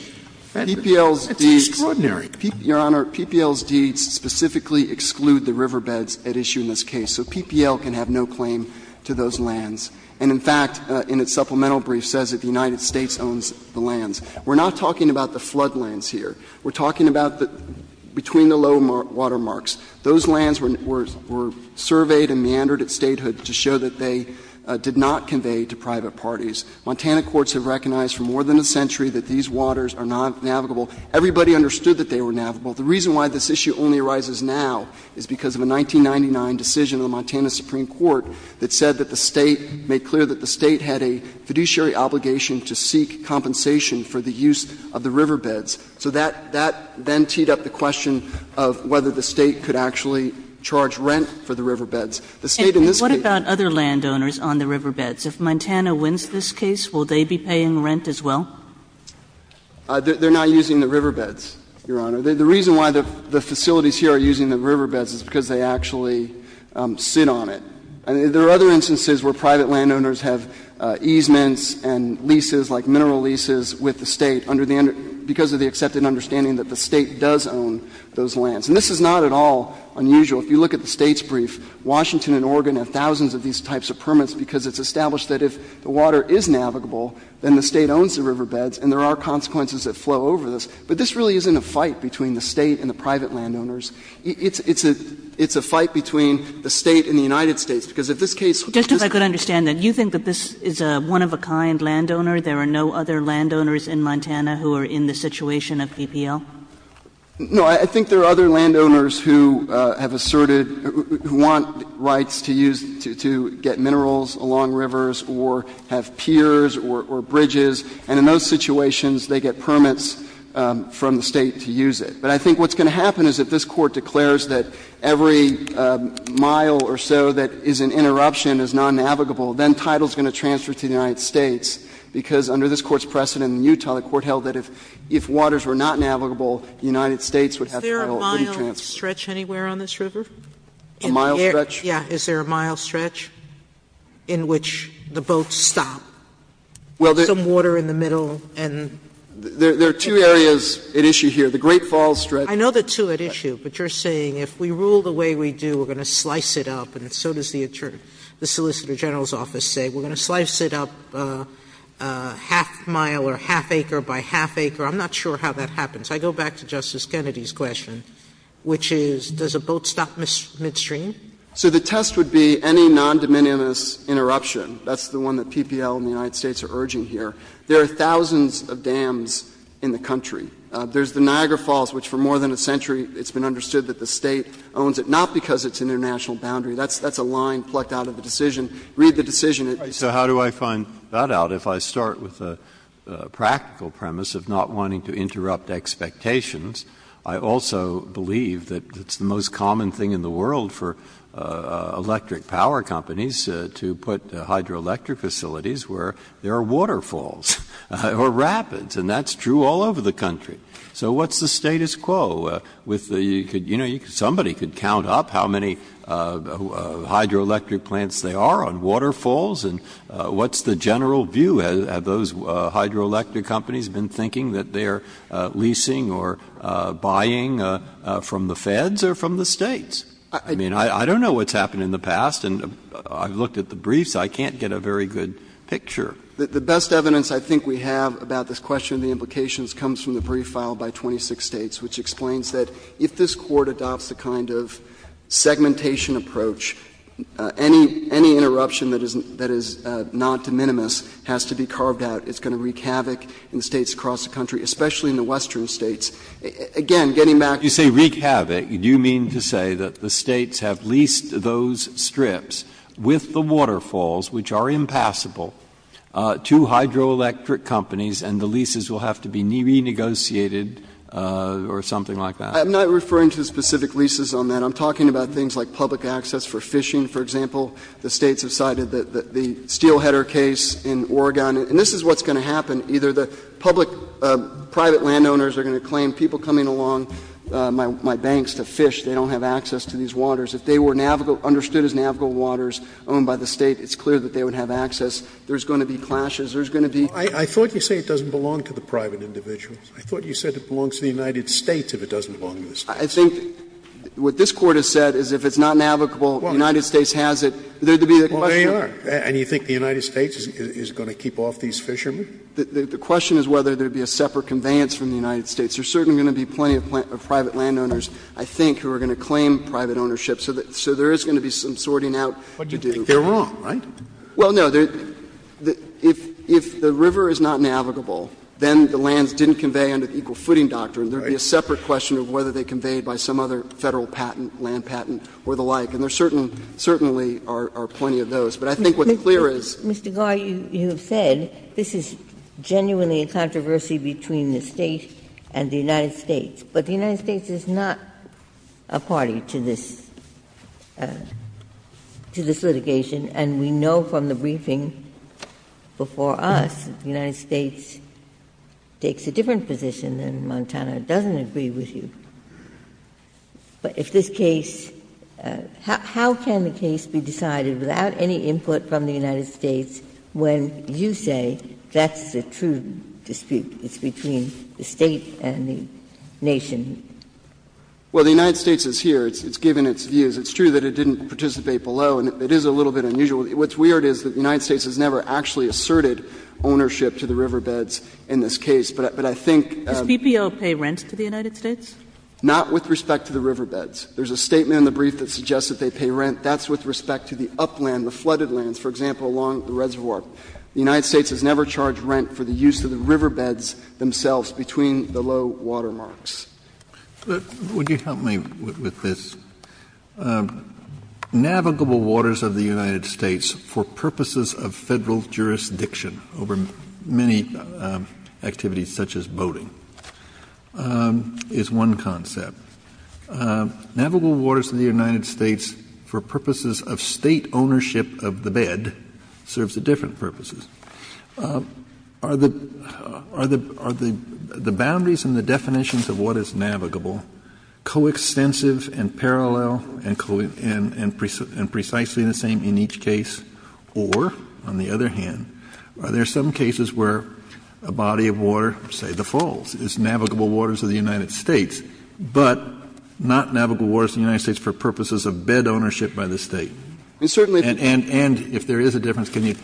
That's extraordinary. Your Honor, PPL's deeds specifically exclude the riverbeds at issue in this case. So PPL can have no claim to those lands. And in fact, in its supplemental brief, says that the United States owns the lands. We're not talking about the floodlands here. We're talking about between the low water marks. Those lands were surveyed and meandered at statehood to show that they did not convey to private parties. Montana courts have recognized for more than a century that these waters are not navigable. Everybody understood that they were navigable. The reason why this issue only arises now is because of a 1999 decision of the Montana Supreme Court that said that the State made clear that the State had a fiduciary obligation to seek compensation for the use of the riverbeds. So that then teed up the question of whether the State could actually charge rent The State in this case can't. Kagan. What about other landowners on the riverbeds? If Montana wins this case, will they be paying rent as well? They're not using the riverbeds, Your Honor. The reason why the facilities here are using the riverbeds is because they actually sit on it. There are other instances where private landowners have easements and leases like mineral leases with the State under the end of the — because of the accepted understanding that the State does own those lands. And this is not at all unusual. If you look at the State's brief, Washington and Oregon have thousands of these types of permits because it's established that if the water is navigable, then the State owns the riverbeds, and there are consequences that flow over this. But this really isn't a fight between the State and the private landowners. It's a fight between the State and the United States, because if this case was just a one-of-a-kind landowner, there are no other landowners in Montana who are in the situation of BPL? No. I think there are other landowners who have asserted — who want rights to use — to get minerals along rivers or have piers or bridges, and in those situations, they get permits from the State to use it. But I think what's going to happen is if this Court declares that every mile or so that is an interruption is non-navigable, then title is going to transfer to the United States, because under this Court's precedent in Utah, the Court held that if waters were not navigable, the United States would have title to transfer. Sotomayor Is there a mile stretch anywhere on this river? A mile stretch? Yeah. Is there a mile stretch in which the boats stop, some water in the middle, and — There are two areas at issue here. The Great Falls stretch — I know the two at issue, but you're saying if we rule the way we do, we're going to slice it up, and so does the Solicitor General's office say. We're going to slice it up a half mile or half acre by half acre. I'm not sure how that happens. I go back to Justice Kennedy's question, which is, does a boat stop midstream? So the test would be any non-de minimis interruption. That's the one that PPL and the United States are urging here. There are thousands of dams in the country. There's the Niagara Falls, which for more than a century it's been understood that the State owns it, not because it's an international boundary. That's a line plucked out of the decision. Read the decision. So how do I find that out if I start with a practical premise of not wanting to interrupt expectations? I also believe that it's the most common thing in the world for electric power companies to put hydroelectric facilities where there are waterfalls or rapids, and that's true all over the country. So what's the status quo with the — you know, somebody could count up how many hydroelectric plants there are on waterfalls, and what's the general view? Have those hydroelectric companies been thinking that they're leasing or buying from the Feds or from the States? I mean, I don't know what's happened in the past, and I've looked at the briefs. I can't get a very good picture. The best evidence I think we have about this question and the implications comes from the brief filed by 26 States, which explains that if this Court adopts a kind of segmentation approach, any interruption that is not de minimis has to be carved out. It's going to wreak havoc in the States across the country, especially in the Western States. Again, getting back to the point of the brief filed by 26 States, I don't know what's happened in the past, and I can't get a very good picture of what's happened in the past. I'm not referring to specific leases on that. I'm talking about things like public access for fishing, for example. The States have cited the steelheader case in Oregon, and this is what's going to happen. Either the public private landowners are going to claim people coming along, my banks, to fish, they don't have access to these waters. If they were navigable, understood as navigable waters, owned by the State, it's clear that they would have access. There's going to be clashes. There's going to be — Scalia, I thought you said it doesn't belong to the private individuals. I thought you said it belongs to the United States if it doesn't belong to the States. I think what this Court has said is if it's not navigable, the United States has it. There would be a question. Well, there you are. And you think the United States is going to keep off these fishermen? The question is whether there would be a separate conveyance from the United States. There's certainly going to be plenty of private landowners, I think, who are going to claim private ownership. So there is going to be some sorting out to do. But you think they're wrong, right? Well, no. If the river is not navigable, then the lands didn't convey under the equal footing doctrine. There would be a separate question of whether they conveyed by some other Federal patent, land patent or the like. And there certainly are plenty of those. But I think what's clear is — Mr. Garre, you have said this is genuinely a controversy between the State and the United States. But the United States is not a party to this litigation. And we know from the briefing before us that the United States takes a different position than Montana. It doesn't agree with you. But if this case — how can the case be decided without any input from the United States when you say that's a true dispute? It's between the State and the nation? Well, the United States is here. It's given its views. It's true that it didn't participate below. And it is a little bit unusual. What's weird is that the United States has never actually asserted ownership to the riverbeds in this case. But I think — Does BPO pay rent to the United States? Not with respect to the riverbeds. There's a statement in the brief that suggests that they pay rent. That's with respect to the upland, the flooded lands, for example, along the reservoir. The United States has never charged rent for the use of the riverbeds themselves between the low water marks. But would you help me with this? Navigable waters of the United States for purposes of Federal jurisdiction over many activities such as boating is one concept. Navigable waters of the United States for purposes of State ownership of the bed serves a different purpose. Are the boundaries and the definitions of what is navigable coextensive and parallel and precisely the same in each case, or, on the other hand, are there some cases where a body of water, say the falls, is navigable waters of the United States, but not navigable waters of the United States for purposes of bed ownership by the State? And if there is a difference, can you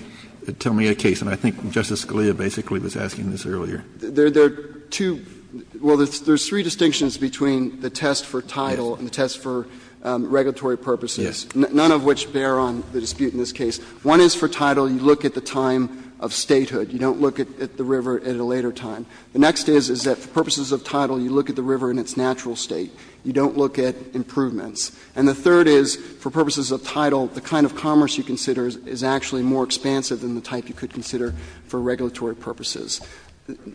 tell me a case? And I think Justice Scalia basically was asking this earlier. There are two – well, there's three distinctions between the test for tidal and the test for regulatory purposes. Yes. None of which bear on the dispute in this case. One is for tidal, you look at the time of statehood. You don't look at the river at a later time. The next is, is that for purposes of tidal, you look at the river in its natural state. You don't look at improvements. And the third is, for purposes of tidal, the kind of commerce you consider is actually more expansive than the type you could consider for regulatory purposes.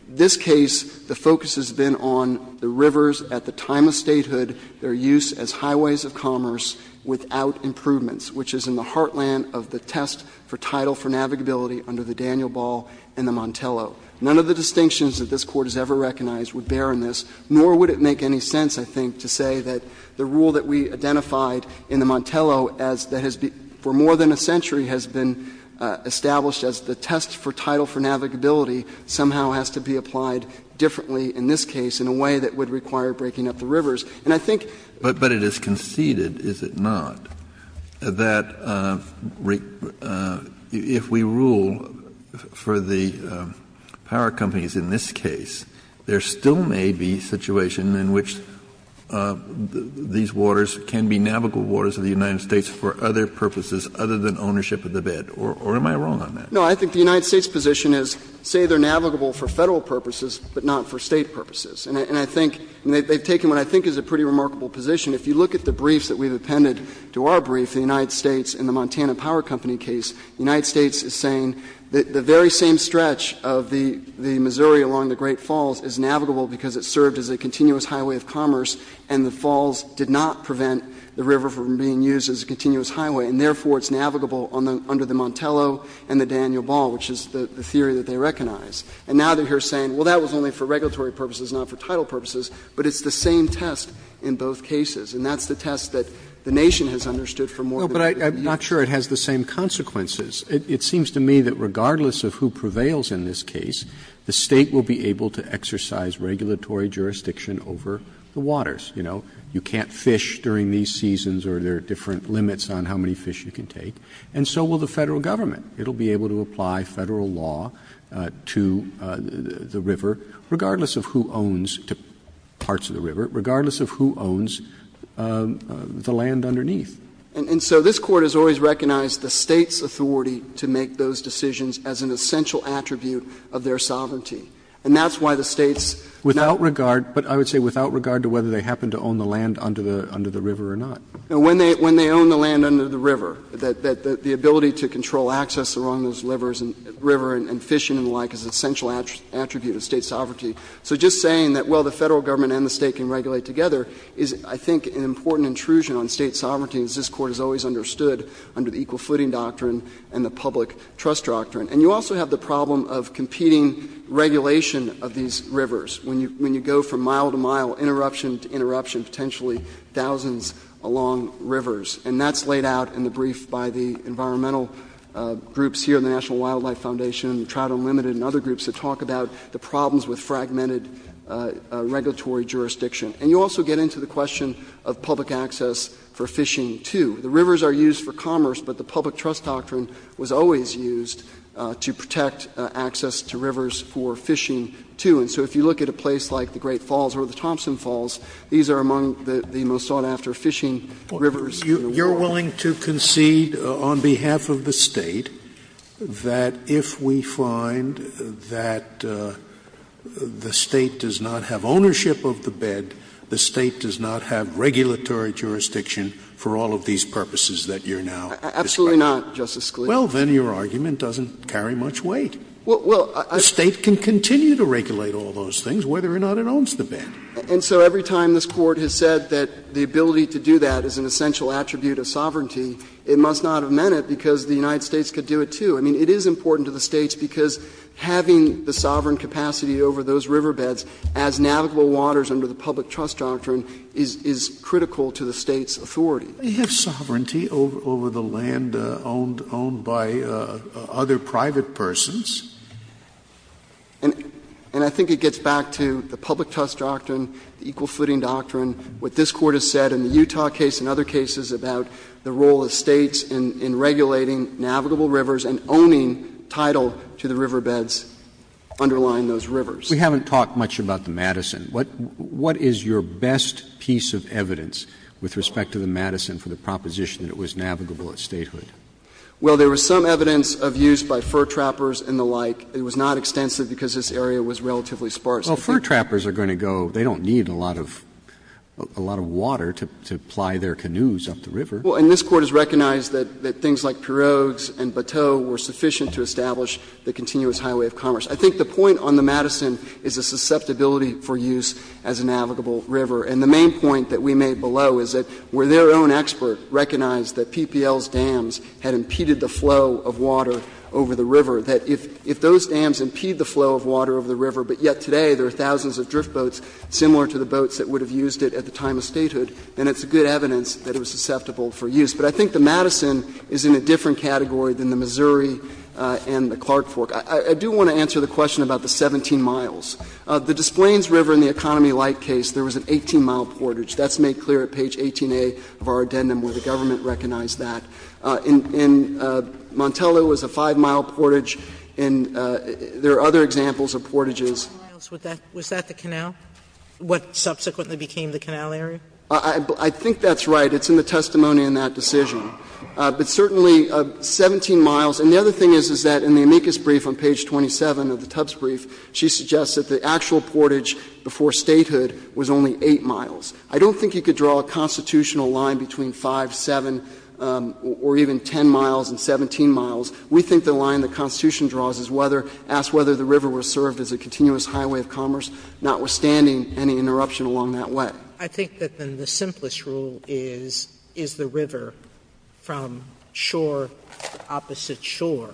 This case, the focus has been on the rivers at the time of statehood, their use as highways of commerce without improvements, which is in the heartland of the test for tidal for navigability under the Daniel Ball and the Montello. None of the distinctions that this Court has ever recognized would bear on this, nor would it make any sense, I think, to say that the rule that we identified in the Montello as that has been for more than a century has been established as the test for tidal for navigability somehow has to be applied differently in this case in a way that would require breaking up the rivers. And I think— But it is conceded, is it not, that if we rule for the power companies in this case, there still may be situation in which these waters can be navigable waters of the United States for other purposes other than ownership of the bed? Or am I wrong on that? No. I think the United States' position is say they're navigable for Federal purposes, but not for State purposes. And I think they've taken what I think is a pretty remarkable position. If you look at the briefs that we've appended to our brief, the United States and the Montana Power Company case, the United States is saying that the very same stretch of the Missouri along the Great Falls is navigable because it served as a continuous highway of commerce, and the falls did not prevent the river from being used as a continuous highway. And therefore, it's navigable under the Montello and the Daniel Ball, which is the theory that they recognize. And now they're here saying, well, that was only for regulatory purposes, not for tidal purposes. But it's the same test in both cases, and that's the test that the Nation has understood for more than a century. But I'm not sure it has the same consequences. It seems to me that regardless of who prevails in this case, the State will be able to exercise regulatory jurisdiction over the waters. You know, you can't fish during these seasons or there are different limits on how many fish you can take. And so will the Federal Government. It will be able to apply Federal law to the river, regardless of who owns parts of the river, regardless of who owns the land underneath. And so this Court has always recognized the State's authority to make those decisions as an essential attribute of their sovereignty. And that's why the State's not. Roberts, but I would say without regard to whether they happen to own the land under the river or not. Now, when they own the land under the river, the ability to control access along those rivers and fishing and the like is an essential attribute of State sovereignty. So just saying that, well, the Federal Government and the State can regulate together is, I think, an important intrusion on State sovereignty, as this Court has always understood under the Equal Footing Doctrine and the Public Trust Doctrine. And you also have the problem of competing regulation of these rivers, when you go from mile to mile, interruption to interruption, potentially thousands along rivers. And that's laid out in the brief by the environmental groups here in the National Wildlife Foundation and Trout Unlimited and other groups that talk about the problems with fragmented regulatory jurisdiction. And you also get into the question of public access for fishing, too. The rivers are used for commerce, but the Public Trust Doctrine was always used to protect access to rivers for fishing, too. And so if you look at a place like the Great Falls or the Thompson Falls, these are among the most sought-after fishing rivers in the world. Scalia, you're willing to concede on behalf of the State that if we find that the State does not have regulatory jurisdiction for all of these purposes that you're now describing? Absolutely not, Justice Scalia. Well, then your argument doesn't carry much weight. Well, I think the State can continue to regulate all those things, whether or not it owns the bed. And so every time this Court has said that the ability to do that is an essential attribute of sovereignty, it must not have meant it because the United States could do it, too. I mean, it is important to the States because having the sovereign capacity over those riverbeds as navigable waters under the Public Trust Doctrine is critical to the States' authority. But you have sovereignty over the land owned by other private persons. And I think it gets back to the Public Trust Doctrine, the equal footing doctrine, what this Court has said in the Utah case and other cases about the role of States in regulating navigable rivers and owning title to the riverbeds underlying those rivers. We haven't talked much about the Madison. What is your best piece of evidence with respect to the Madison for the proposition that it was navigable at statehood? Well, there was some evidence of use by fur trappers and the like. It was not extensive because this area was relatively sparse. Well, fur trappers are going to go. They don't need a lot of water to ply their canoes up the river. Well, and this Court has recognized that things like Pirogues and Bateau were sufficient to establish the continuous highway of commerce. I think the point on the Madison is a susceptibility for use as a navigable river. And the main point that we made below is that where their own expert recognized that PPL's dams had impeded the flow of water over the river, that if those dams impede the flow of water over the river, but yet today there are thousands of drift boats similar to the boats that would have used it at the time of statehood, then it's good evidence that it was susceptible for use. But I think the Madison is in a different category than the Missouri and the Clark Fork. I do want to answer the question about the 17 miles. The Des Plaines River in the Economy Light case, there was an 18-mile portage. That's made clear at page 18a of our addendum where the government recognized that. In Montella, it was a 5-mile portage, and there are other examples of portages. Sotomayor was that the canal, what subsequently became the canal area? I think that's right. It's in the testimony in that decision. But certainly, 17 miles, and the other thing is, is that in the amicus brief on page 27 of the Tubbs brief, she suggests that the actual portage before statehood was only 8 miles. I don't think you could draw a constitutional line between 5, 7, or even 10 miles and 17 miles. We think the line the Constitution draws is whether the river was served as a continuous highway of commerce, notwithstanding any interruption along that way. Sotomayor, I think that then the simplest rule is, is the river from shore to opposite shore,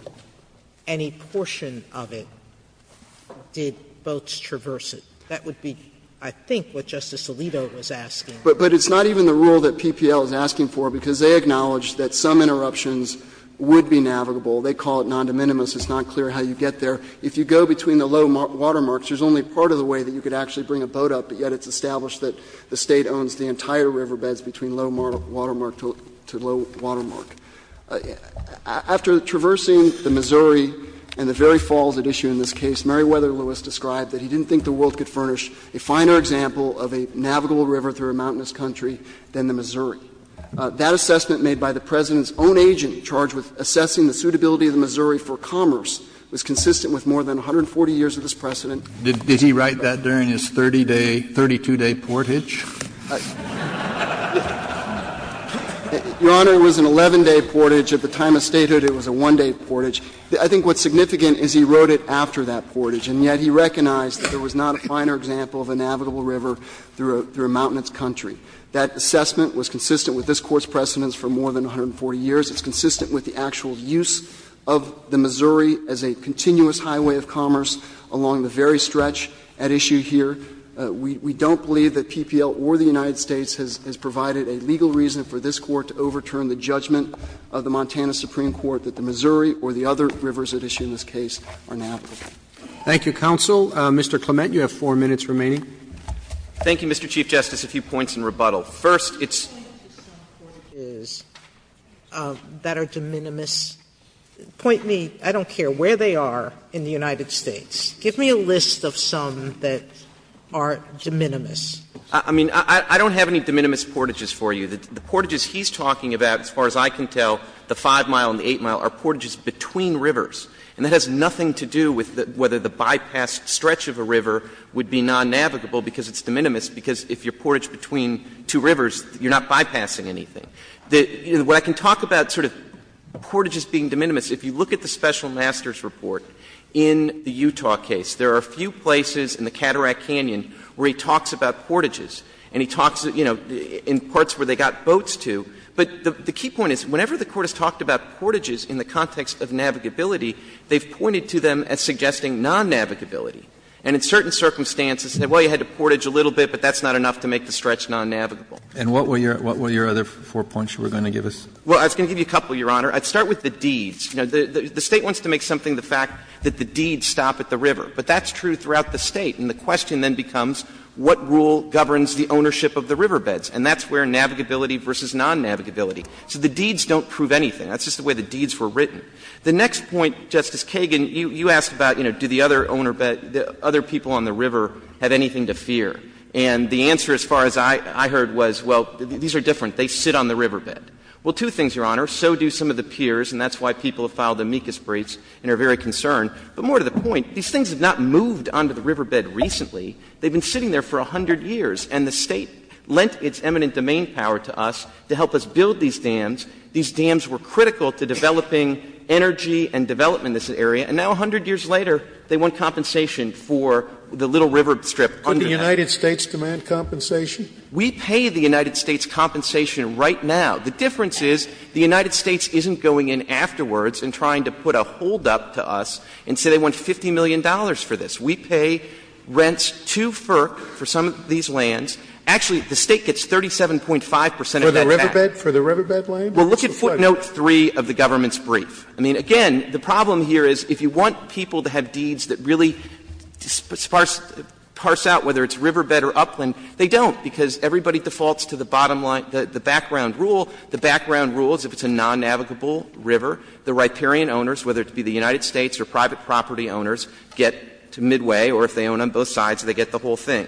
any portion of it, did boats traverse it? That would be, I think, what Justice Alito was asking. But it's not even the rule that PPL is asking for, because they acknowledge that some interruptions would be navigable. They call it non-de minimis. It's not clear how you get there. If you go between the low water marks, there's only part of the way that you could actually bring a boat up, but yet it's established that the State owns the entire riverbeds between low water mark to low water mark. After traversing the Missouri and the very falls at issue in this case, Meriwether Lewis described that he didn't think the world could furnish a finer example of a navigable river through a mountainous country than the Missouri. That assessment made by the President's own agent charged with assessing the suitability of the Missouri for commerce was consistent with more than 140 years of this precedent. Kennedy, did he write that during his 30-day, 32-day portage? Meriwether Lewis, Jr. Your Honor, it was an 11-day portage. At the time of statehood, it was a 1-day portage. I think what's significant is he wrote it after that portage, and yet he recognized that there was not a finer example of a navigable river through a mountainous country. That assessment was consistent with this Court's precedents for more than 140 years. It's consistent with the actual use of the Missouri as a continuous highway of commerce along the very stretch at issue here. We don't believe that PPL or the United States has provided a legal reason for this Court to overturn the judgment of the Montana Supreme Court that the Missouri or the other rivers at issue in this case are navigable. Roberts. Thank you, counsel. Mr. Clement, you have 4 minutes remaining. Clement, thank you, Mr. Chief Justice. A few points in rebuttal. First, it's Sotomayor, I don't care where they are in the United States. Give me a list of some that are de minimis. Clement, I mean, I don't have any de minimis portages for you. The portages he's talking about, as far as I can tell, the 5-mile and the 8-mile are portages between rivers. And that has nothing to do with whether the bypassed stretch of a river would be non-navigable because it's de minimis, because if you're portaged between two rivers, you're not bypassing anything. What I can talk about, sort of, portages being de minimis, if you look at the special master's report in the Utah case, there are a few places in the Cataract Canyon where he talks about portages. And he talks, you know, in parts where they got boats to. But the key point is, whenever the Court has talked about portages in the context of navigability, they've pointed to them as suggesting non-navigability. And in certain circumstances, they say, well, you had to portage a little bit, but that's not enough to make the stretch non-navigable. And what were your other four points you were going to give us? Well, I was going to give you a couple, Your Honor. I'd start with the deeds. You know, the State wants to make something the fact that the deeds stop at the river. But that's true throughout the State. And the question then becomes, what rule governs the ownership of the riverbeds? And that's where navigability versus non-navigability. So the deeds don't prove anything. That's just the way the deeds were written. The next point, Justice Kagan, you asked about, you know, do the other people on the river have anything to fear. And the answer, as far as I heard, was, well, these are different. They sit on the riverbed. Well, two things, Your Honor. So do some of the piers, and that's why people have filed amicus briefs and are very concerned. But more to the point, these things have not moved onto the riverbed recently. They've been sitting there for 100 years. And the State lent its eminent domain power to us to help us build these dams. These dams were critical to developing energy and development in this area. And now, 100 years later, they want compensation for the little river strip under that. Could the United States demand compensation? We pay the United States compensation right now. The difference is the United States isn't going in afterwards and trying to put a hold up to us and say they want $50 million for this. We pay rents to FERC for some of these lands. Actually, the State gets 37.5 percent of that tax. Scalia. For the riverbed, for the riverbed land? Or just the site land? Clements. Clements. Well, look at footnote 3 of the government's brief. I mean, again, the problem here is if you want people to have deeds that really sparse, parse out whether it's riverbed or upland, they don't, because everybody defaults to the bottom line, the background rule. The background rule is if it's a non-navigable river, the riparian owners, whether it be the United States or private property owners, get to midway, or if they own on both sides, they get the whole thing.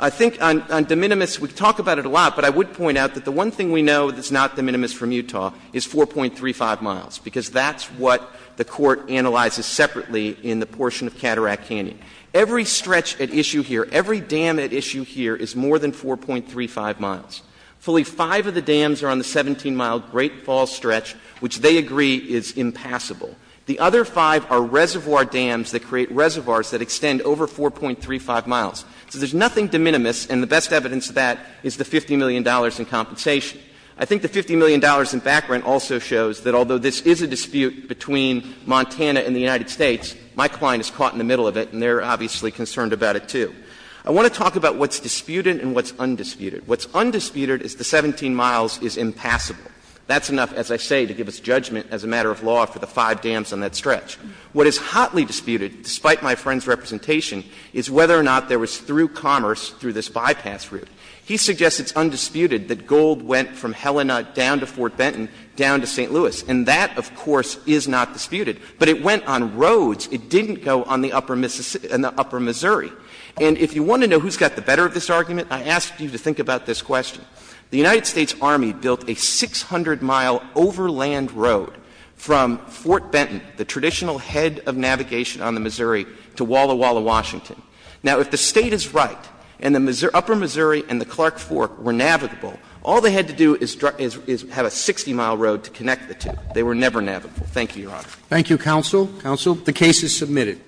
I think on De Minimis, we talk about it a lot, but I would point out that the one thing we know that's not De Minimis from Utah is 4.35 miles, because that's what the Court analyzes separately in the portion of Cataract Canyon. Every stretch at issue here, every dam at issue here is more than 4.35 miles. Fully five of the dams are on the 17-mile Great Falls stretch, which they agree is impassable. The other five are reservoir dams that create reservoirs that extend over 4.35 miles. So there's nothing De Minimis, and the best evidence of that is the $50 million in compensation. I think the $50 million in background also shows that although this is a dispute between Montana and the United States, my client is caught in the middle of it and they're obviously concerned about it, too. I want to talk about what's disputed and what's undisputed. What's undisputed is the 17 miles is impassable. That's enough, as I say, to give us judgment as a matter of law for the five dams on that stretch. What is hotly disputed, despite my friend's representation, is whether or not there was through commerce, through this bypass route. He suggests it's undisputed that gold went from Helena down to Fort Benton down to St. Louis, and that, of course, is not disputed. But it went on roads. It didn't go on the upper Mississippi and the upper Missouri. And if you want to know who's got the better of this argument, I ask you to think about this question. The United States Army built a 600-mile overland road from Fort Benton, the traditional head of navigation on the Missouri, to Walla Walla, Washington. Now, if the State is right and the upper Missouri and the Clark Fork were navigable, all they had to do is have a 60-mile road to connect the two. They were never navigable. Thank you, Your Honor. Roberts. Thank you, counsel. Counsel. The case is submitted.